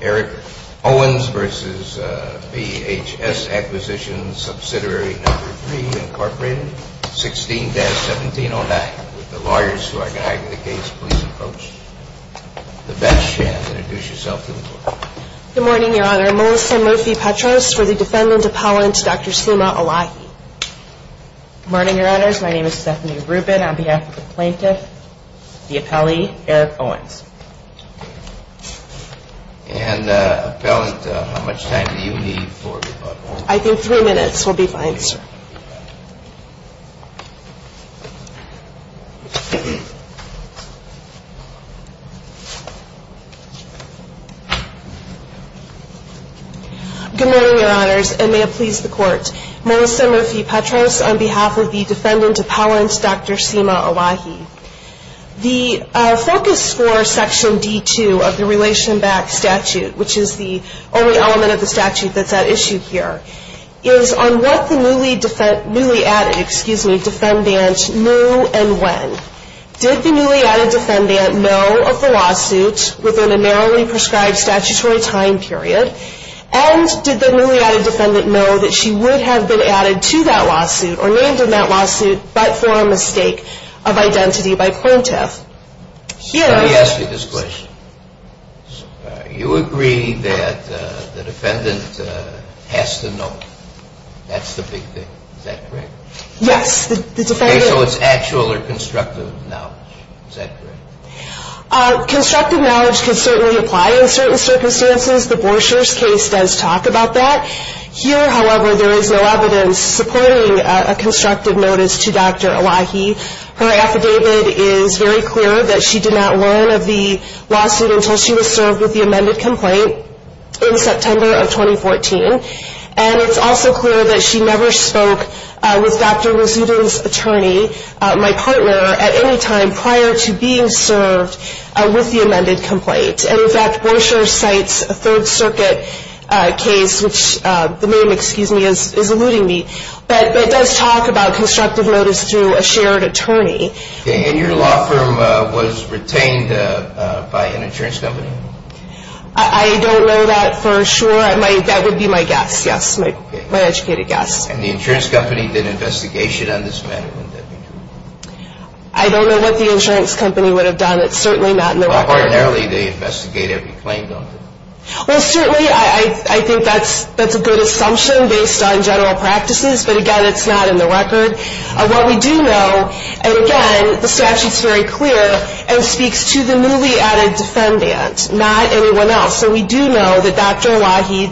Eric Owens v. VHS Acquisition Subsidiary No. 3, Incorporated, 16-1709. Would the lawyers who are guiding the case please approach the bench and introduce yourself to the board. Good morning, Your Honor. I'm Melissa Murphy-Petros for the defendant appellant, Dr. Suma Alahi. Good morning, Your Honors. My name is Stephanie Rubin. On behalf of the plaintiff, the appellee, Eric Owens. And, appellant, how much time do you need for rebuttal? I think three minutes will be fine, sir. Good morning, Your Honors, and may it please the court. Melissa Murphy-Petros on behalf of the defendant appellant, Dr. Suma Alahi. The focus for Section D-2 of the Relation Back Statute, which is the only element of the statute that's at issue here, is on what the newly added defendant knew and when. Did the newly added defendant know of the lawsuit within a narrowly prescribed statutory time period, and did the newly added defendant know that she would have been added to that lawsuit or named in that lawsuit but for a mistake of identity by plaintiff? Let me ask you this question. You agree that the defendant has to know. That's the big thing. Is that correct? Yes, the defendant Okay, so it's actual or constructive knowledge. Is that correct? Constructive knowledge can certainly apply in certain circumstances. The Borchers case does talk about that. Here, however, there is no evidence supporting a constructive notice to Dr. Alahi. Her affidavit is very clear that she did not learn of the lawsuit until she was served with the amended complaint in September of 2014. And it's also clear that she never spoke with Dr. Razudin's attorney, my partner, at any time prior to being served with the amended complaint. And in fact, Borchers cites a Third Circuit case, which the name, excuse me, is eluding me, but it does talk about constructive notice to a shared attorney. And your law firm was retained by an insurance company? I don't know that for sure. That would be my guess. Yes, my educated guess. And the insurance company did an investigation on this matter? I don't know what the insurance company would have done. It's certainly not in their record. But ordinarily, they investigate every claim, don't they? Well, certainly, I think that's a good assumption based on general practices. But again, it's not in the record. What we do know, and again, the statute's very clear and speaks to the newly added defendant, not anyone else. So we do know that Dr. Alahi,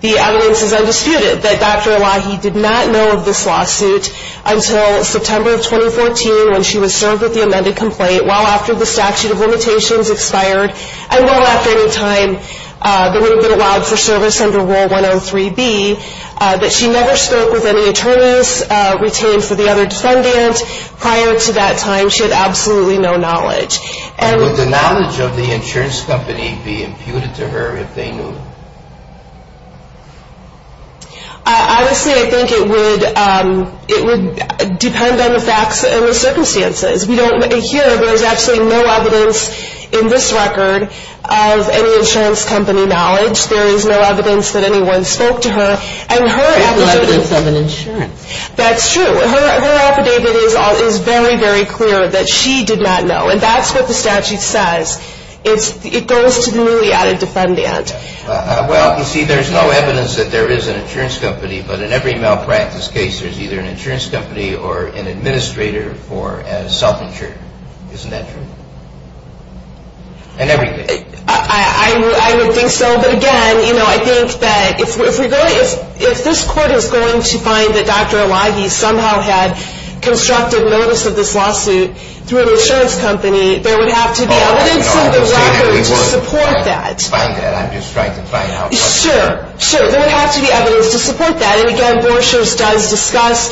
the evidence is undisputed, that Dr. Alahi did not know of this lawsuit until September of 2014 when she was served with the amended complaint. Well after the statute of limitations expired, and well after any time that would have been allowed for service under Rule 103B, that she never spoke with any attorneys retained for the other defendant. Prior to that time, she had absolutely no knowledge. Would the knowledge of the insurance company be imputed to her if they knew? Honestly, I think it would depend on the facts and the circumstances. Here, there's absolutely no evidence in this record of any insurance company knowledge. There is no evidence that anyone spoke to her. There's no evidence of an insurance. That's true. Her affidavit is very, very clear that she did not know. And that's what the statute says. It goes to the newly added defendant. Well, you see, there's no evidence that there is an insurance company. But in every malpractice case, there's either an insurance company or an administrator for a self-insured. Isn't that true? In every case. I would think so. But again, I think that if this court is going to find that Dr. Elagi somehow had constructed notice of this lawsuit through an insurance company, there would have to be evidence in the record to support that. I'm just trying to find out. Sure. There would have to be evidence to support that. And again, Borchers does discuss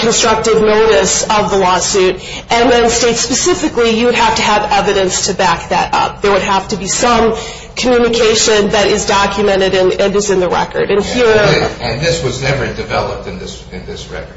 constructed notice of the lawsuit. And then states specifically, you would have to have evidence to back that up. There would have to be some communication that is documented and is in the record. And this was never developed in this record.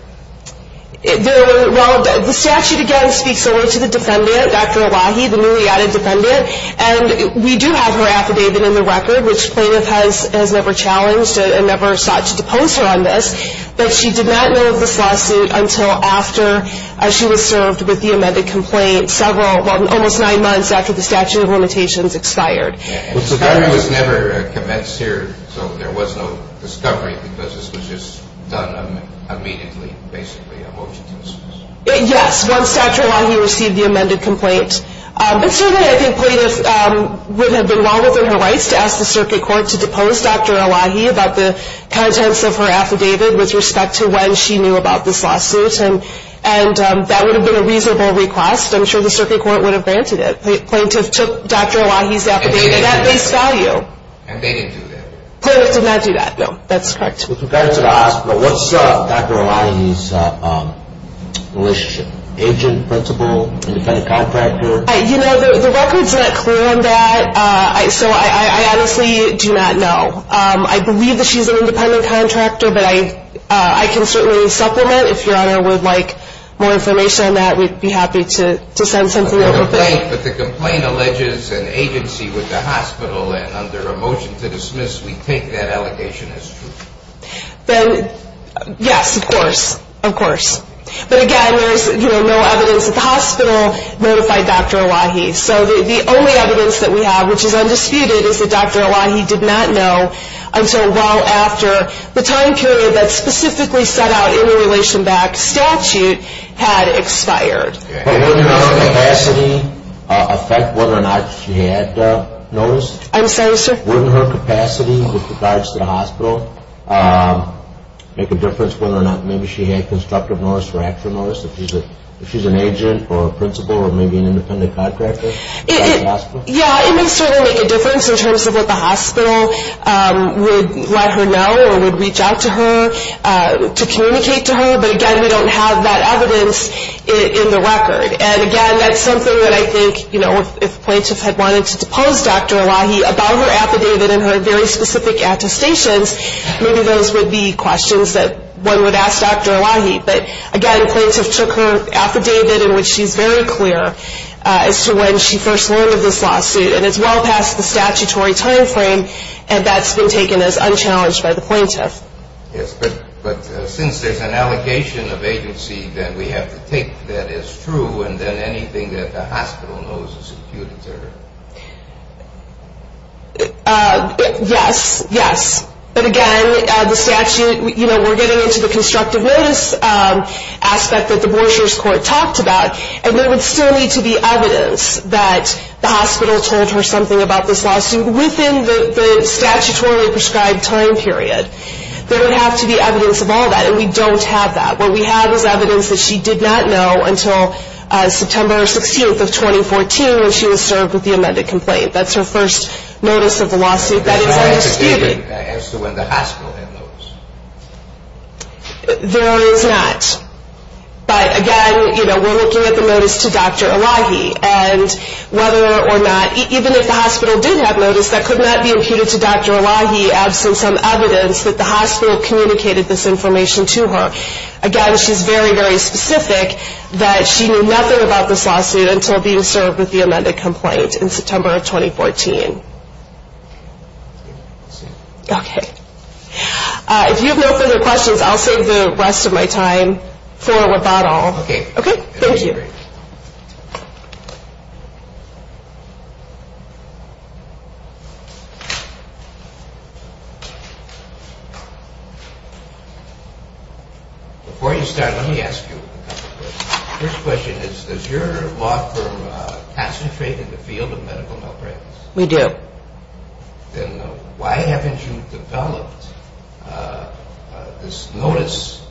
The statute, again, speaks only to the defendant, Dr. Elagi, the newly added defendant. And we do have her affidavit in the record, which plaintiff has never challenged and never sought to depose her on this. But she did not know of this lawsuit until after she was served with the amended complaint, several, almost nine months after the statute of limitations expired. Well, so that was never commenced here? So there was no discovery because this was just done immediately, basically, a motion to dismiss? Yes, once Dr. Elagi received the amended complaint. But certainly I think plaintiff would have been wrong within her rights to ask the circuit court to depose Dr. Elagi about the contents of her affidavit with respect to when she knew about this lawsuit. And that would have been a reasonable request. I'm sure the circuit court would have granted it. Plaintiff took Dr. Elagi's affidavit at face value. And they didn't do that? Plaintiff did not do that, no. That's correct. With regard to the hospital, what's Dr. Elagi's relationship, agent, principal, independent contractor? You know, the record's not clear on that. So I honestly do not know. I believe that she's an independent contractor, but I can certainly supplement. If Your Honor would like more information on that, we'd be happy to send something over. But the complaint alleges an agency with the hospital, and under a motion to dismiss, we take that allegation as true. Then, yes, of course, of course. But, again, there's no evidence at the hospital notified Dr. Elagi. So the only evidence that we have, which is undisputed, is that Dr. Elagi did not know until well after the time period that's specifically set out in the relation-backed statute had expired. But wouldn't her capacity affect whether or not she had notice? I'm sorry, sir? Wouldn't her capacity with regards to the hospital make a difference whether or not maybe she had constructive notice or extra notice? If she's an agent or a principal or maybe an independent contractor at the hospital? Yeah, it would certainly make a difference in terms of what the hospital would let her know or would reach out to her to communicate to her. But, again, we don't have that evidence in the record. And, again, that's something that I think, you know, if plaintiffs had wanted to depose Dr. Elagi about her affidavit and her very specific attestations, maybe those would be questions that one would ask Dr. Elagi. But, again, the plaintiff took her affidavit in which she's very clear as to when she first learned of this lawsuit. And it's well past the statutory time frame, and that's been taken as unchallenged by the plaintiff. Yes, but since there's an allegation of agency, then we have to take that as true and then anything that the hospital knows is imputed to her. Yes, yes. But, again, the statute, you know, we're getting into the constructive notice aspect that the Borscher's Court talked about, and there would still need to be evidence that the hospital told her something about this lawsuit within the statutorily prescribed time period. There would have to be evidence of all that, and we don't have that. What we have is evidence that she did not know until September 16th of 2014 when she was served with the amended complaint. That's her first notice of the lawsuit. That is undisputed. There's no affidavit as to when the hospital had notice. There is not. But, again, you know, we're looking at the notice to Dr. Elahi, and whether or not, even if the hospital did have notice, that could not be imputed to Dr. Elahi absent some evidence that the hospital communicated this information to her. Again, she's very, very specific that she knew nothing about this lawsuit until being served with the amended complaint in September of 2014. Okay. If you have no further questions, I'll save the rest of my time for a rebuttal. Okay. Okay, thank you. Before you start, let me ask you a couple of questions. First question is, does your law firm concentrate in the field of medical malpractice? We do. Then why haven't you developed this notice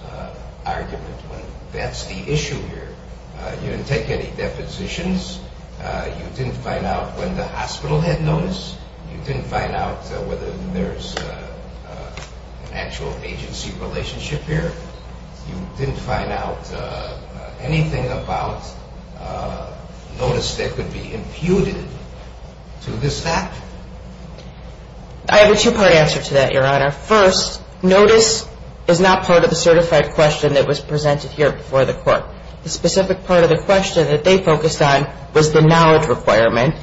argument when that's the issue here? You didn't take any depositions. You didn't find out when the hospital had notice. You didn't find out whether there's an actual agency relationship here. You didn't find out anything about notice that could be imputed to this factor. I have a two-part answer to that, Your Honor. First, notice is not part of the certified question that was presented here before the court. The specific part of the question that they focused on was the knowledge requirement,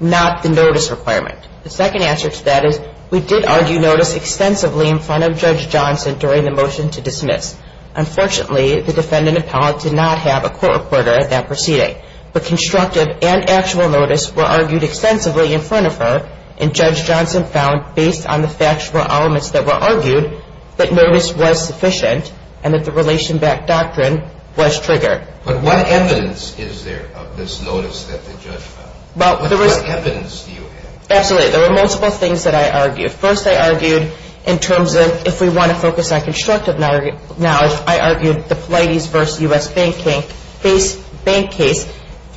not the notice requirement. The second answer to that is we did argue notice extensively in front of Judge Johnson during the motion to dismiss. Unfortunately, the defendant appellant did not have a court recorder at that proceeding. But constructive and actual notice were argued extensively in front of her, and Judge Johnson found, based on the factual elements that were argued, that notice was sufficient and that the relation-backed doctrine was triggered. But what evidence is there of this notice that the judge found? What evidence do you have? Absolutely. There were multiple things that I argued. First, I argued in terms of if we want to focus on constructive knowledge, I argued the Polites v. U.S. Bank case,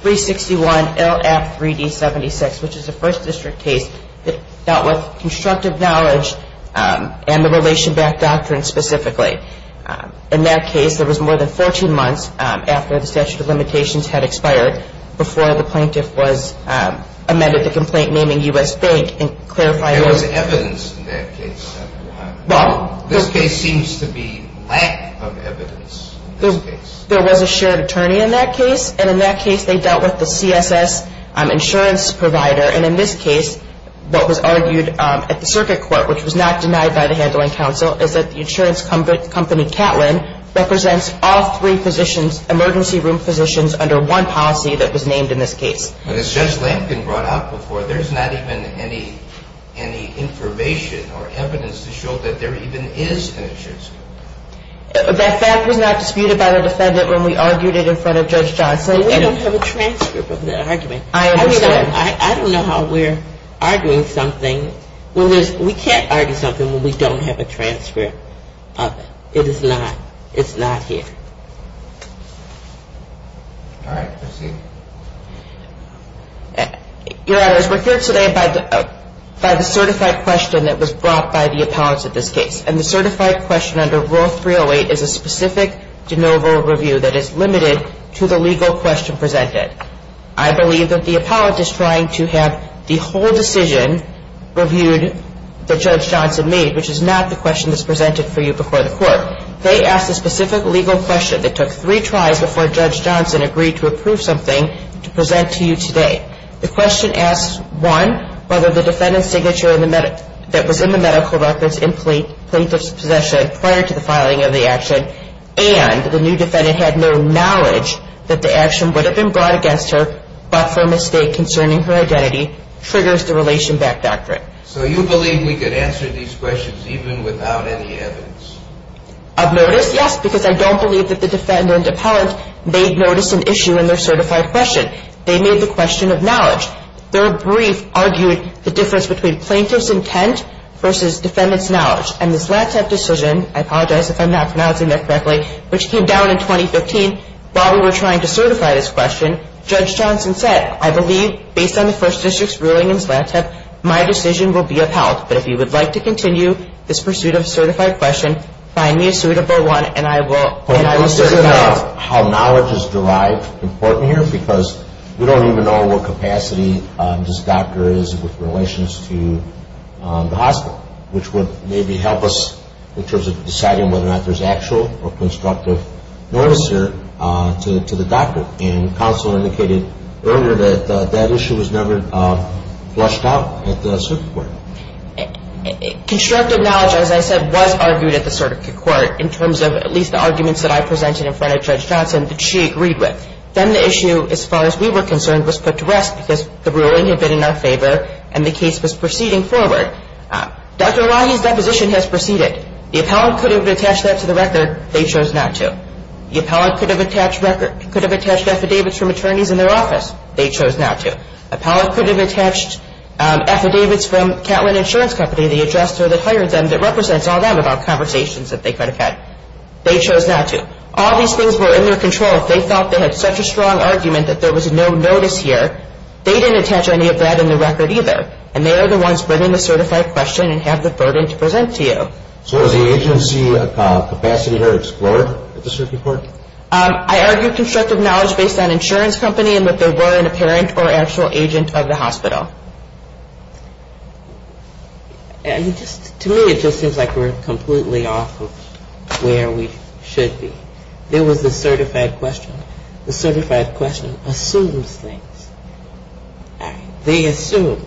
361LF3D76, which is a First District case that dealt with constructive knowledge and the relation-backed doctrine specifically. In that case, there was more than 14 months after the statute of limitations had expired before the plaintiff amended the complaint naming U.S. Bank. There was evidence in that case. This case seems to be lack of evidence. There was a shared attorney in that case, and in that case they dealt with the CSS insurance provider. And in this case, what was argued at the circuit court, which was not denied by the handling counsel, is that the insurance company Catlin represents all three emergency room positions under one policy that was named in this case. But as Judge Lampkin brought up before, there's not even any information or evidence to show that there even is an insurance company. That fact was not disputed by the defendant when we argued it in front of Judge Johnson. We don't have a transcript of that argument. I understand. I don't know how we're arguing something when there's – we can't argue something when we don't have a transcript of it. It is not – it's not here. All right. Proceed. Your Honors, we're here today by the certified question that was brought by the appellants in this case. And the certified question under Rule 308 is a specific de novo review that is limited to the legal question presented. I believe that the appellant is trying to have the whole decision reviewed that Judge Johnson made, However, they asked a specific legal question that took three tries before Judge Johnson agreed to approve something to present to you today. The question asks, one, whether the defendant's signature that was in the medical records in plaintiff's possession prior to the filing of the action and the new defendant had no knowledge that the action would have been brought against her but for a mistake concerning her identity triggers the relation back doctrine. So you believe we could answer these questions even without any evidence? Of notice, yes, because I don't believe that the defendant appellant made notice and issue in their certified question. They made the question of knowledge. Their brief argued the difference between plaintiff's intent versus defendant's knowledge. And the Zlatep decision – I apologize if I'm not pronouncing that correctly – which came down in 2015 while we were trying to certify this question, Judge Johnson said, I believe, based on the First District's ruling in Zlatep, my decision will be upheld. But if you would like to continue this pursuit of a certified question, find me a suitable one and I will certify it. How knowledge is derived is important here because we don't even know what capacity this doctor is with relations to the hospital, which would maybe help us in terms of deciding whether or not there's actual or constructive notice here to the doctor. And counsel indicated earlier that that issue was never flushed out at the circuit court. Constructive knowledge, as I said, was argued at the circuit court in terms of at least the arguments that I presented in front of Judge Johnson that she agreed with. Then the issue, as far as we were concerned, was put to rest because the ruling had been in our favor and the case was proceeding forward. Dr. Elahi's deposition has proceeded. The appellant could have attached that to the record. They chose not to. The appellant could have attached affidavits from attorneys in their office. They chose not to. The appellant could have attached affidavits from Catlin Insurance Company, the adjuster that hired them, that represents all them about conversations that they could have had. They chose not to. All these things were in their control. If they felt they had such a strong argument that there was no notice here, they didn't attach any of that in the record either. And they are the ones bringing the certified question and have the burden to present to you. So is the agency a capacitor explorer at the circuit court? I argue constructive knowledge based on insurance company and that they were an apparent or actual agent of the hospital. To me, it just seems like we're completely off of where we should be. There was the certified question. The certified question assumes things. They assume.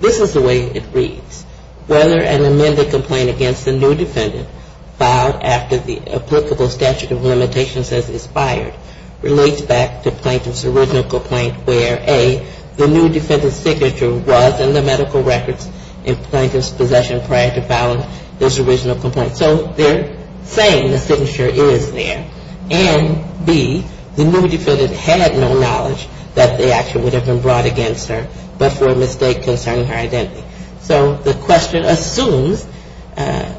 This is the way it reads. Whether an amended complaint against the new defendant filed after the applicable statute of limitations has expired relates back to plaintiff's original complaint where A, the new defendant's signature was in the medical records in plaintiff's possession prior to filing this original complaint. So they're saying the signature is there. And B, the new defendant had no knowledge that the action would have been brought against her but for a mistake concerning her identity. So the question assumes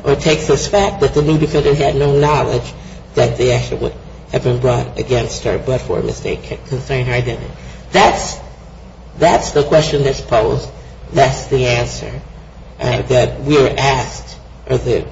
or takes as fact that the new defendant had no knowledge that the action would have been brought against her but for a mistake concerning her identity. That's the question that's posed. That's the answer that we're asked or the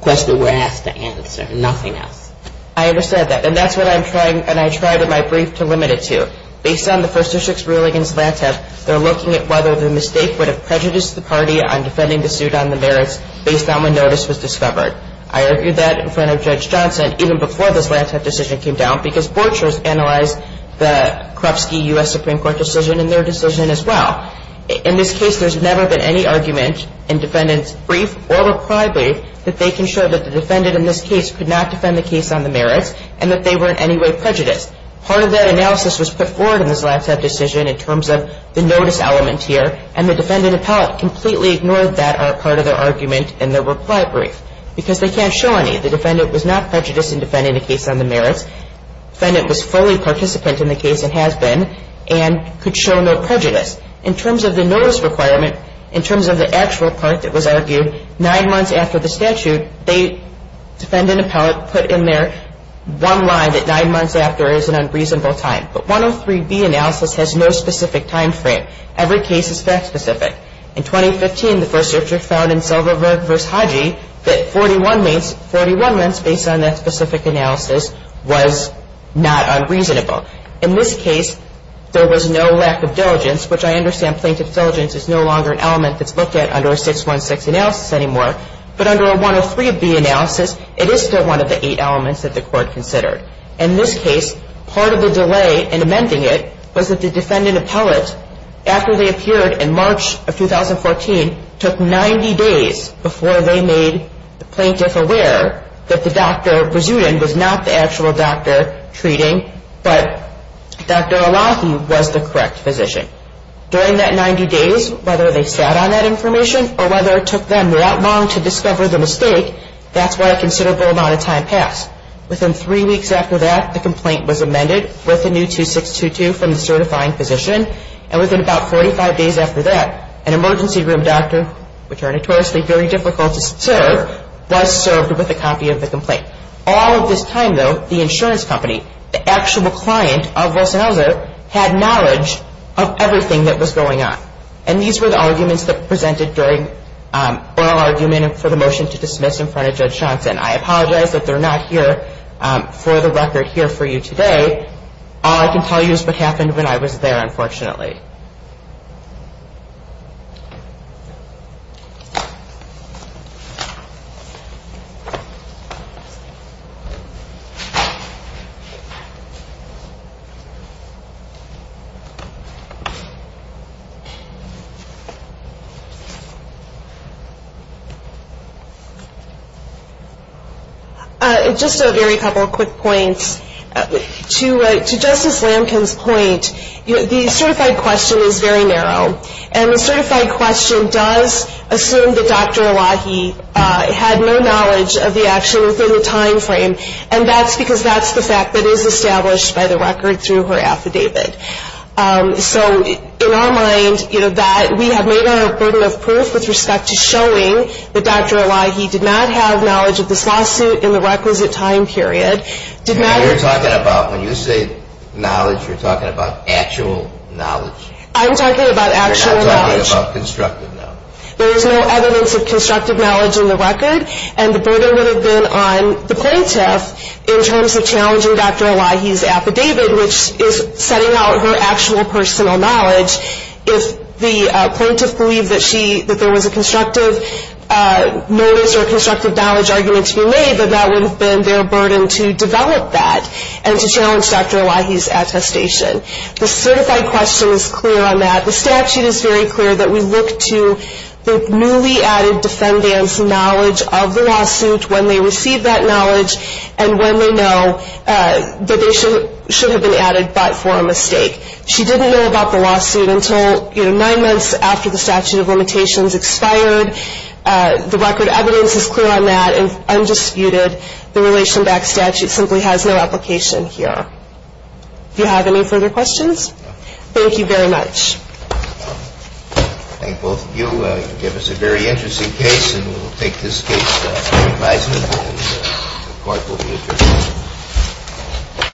question we're asked to answer. Nothing else. I understand that. And that's what I'm trying and I tried in my brief to limit it to. Based on the First District's ruling in Zlantsev, they're looking at whether the mistake would have prejudiced the party on defending the suit on the merits based on when notice was discovered. I argued that in front of Judge Johnson even before the Zlantsev decision came down because board chairs analyzed the Krupski U.S. Supreme Court decision and their decision as well. In this case, there's never been any argument in defendants' brief or reply brief that they can show that the defendant in this case could not defend the case on the merits and that they were in any way prejudiced. Part of that analysis was put forward in the Zlantsev decision in terms of the notice element here and the defendant appellate completely ignored that part of their argument in their reply brief because they can't show any. The defendant was not prejudiced in defending the case on the merits. Defendant was fully participant in the case and has been and could show no prejudice. In terms of the notice requirement, in terms of the actual part that was argued, nine months after the statute, defendant appellate put in there one line that nine months after is an unreasonable time. But 103B analysis has no specific time frame. Every case is fact specific. In 2015, the first searcher found in Selverberg v. Hodgey that 41 months based on that specific analysis was not unreasonable. In this case, there was no lack of diligence, which I understand plaintiff's diligence is no longer an element that's looked at under a 616 analysis anymore. But under a 103B analysis, it is still one of the eight elements that the court considered. In this case, part of the delay in amending it was that the defendant appellate, after they appeared in March of 2014, took 90 days before they made the plaintiff aware that the Dr. Brazudin was not the actual doctor treating, but Dr. Elahi was the correct physician. During that 90 days, whether they sat on that information or whether it took them that long to discover the mistake, that's why a considerable amount of time passed. Within three weeks after that, the complaint was amended with a new 2622 from the certifying physician, and within about 45 days after that, an emergency room doctor, which are notoriously very difficult to serve, was served with a copy of the complaint. All of this time, though, the insurance company, the actual client of Rosenhauser, had knowledge of everything that was going on. And these were the arguments that were presented during oral argument and for the motion to dismiss in front of Judge Johnson. I apologize that they're not here for the record here for you today. All I can tell you is what happened when I was there, unfortunately. Just a very couple of quick points. To Justice Lamkin's point, the certified question is very narrow, and the certified question does assume that Dr. Elahi had no knowledge of the action within the time frame, and that's because that's the fact that is established by the record through her affidavit. So in our mind, you know, that we have made our burden of proof with respect to showing that Dr. Elahi did not have knowledge of this lawsuit in the requisite time period. You're talking about, when you say knowledge, you're talking about actual knowledge. I'm talking about actual knowledge. You're not talking about constructive knowledge. There is no evidence of constructive knowledge in the record, and the burden would have been on the plaintiff in terms of challenging Dr. Elahi's affidavit, which is setting out her actual personal knowledge. If the plaintiff believed that there was a constructive notice or a constructive knowledge argument to be made, then that would have been their burden to develop that and to challenge Dr. Elahi's attestation. The certified question is clear on that. The statute is very clear that we look to the newly added defendant's knowledge of the lawsuit when they receive that knowledge and when they know that they should have been added but for a mistake. She didn't know about the lawsuit until, you know, nine months after the statute of limitations expired. The record evidence is clear on that and undisputed. The relation back statute simply has no application here. Do you have any further questions? Thank you very much. I thank both of you. You gave us a very interesting case, and we will take this case to re-advisement, and the Court will be adjourned.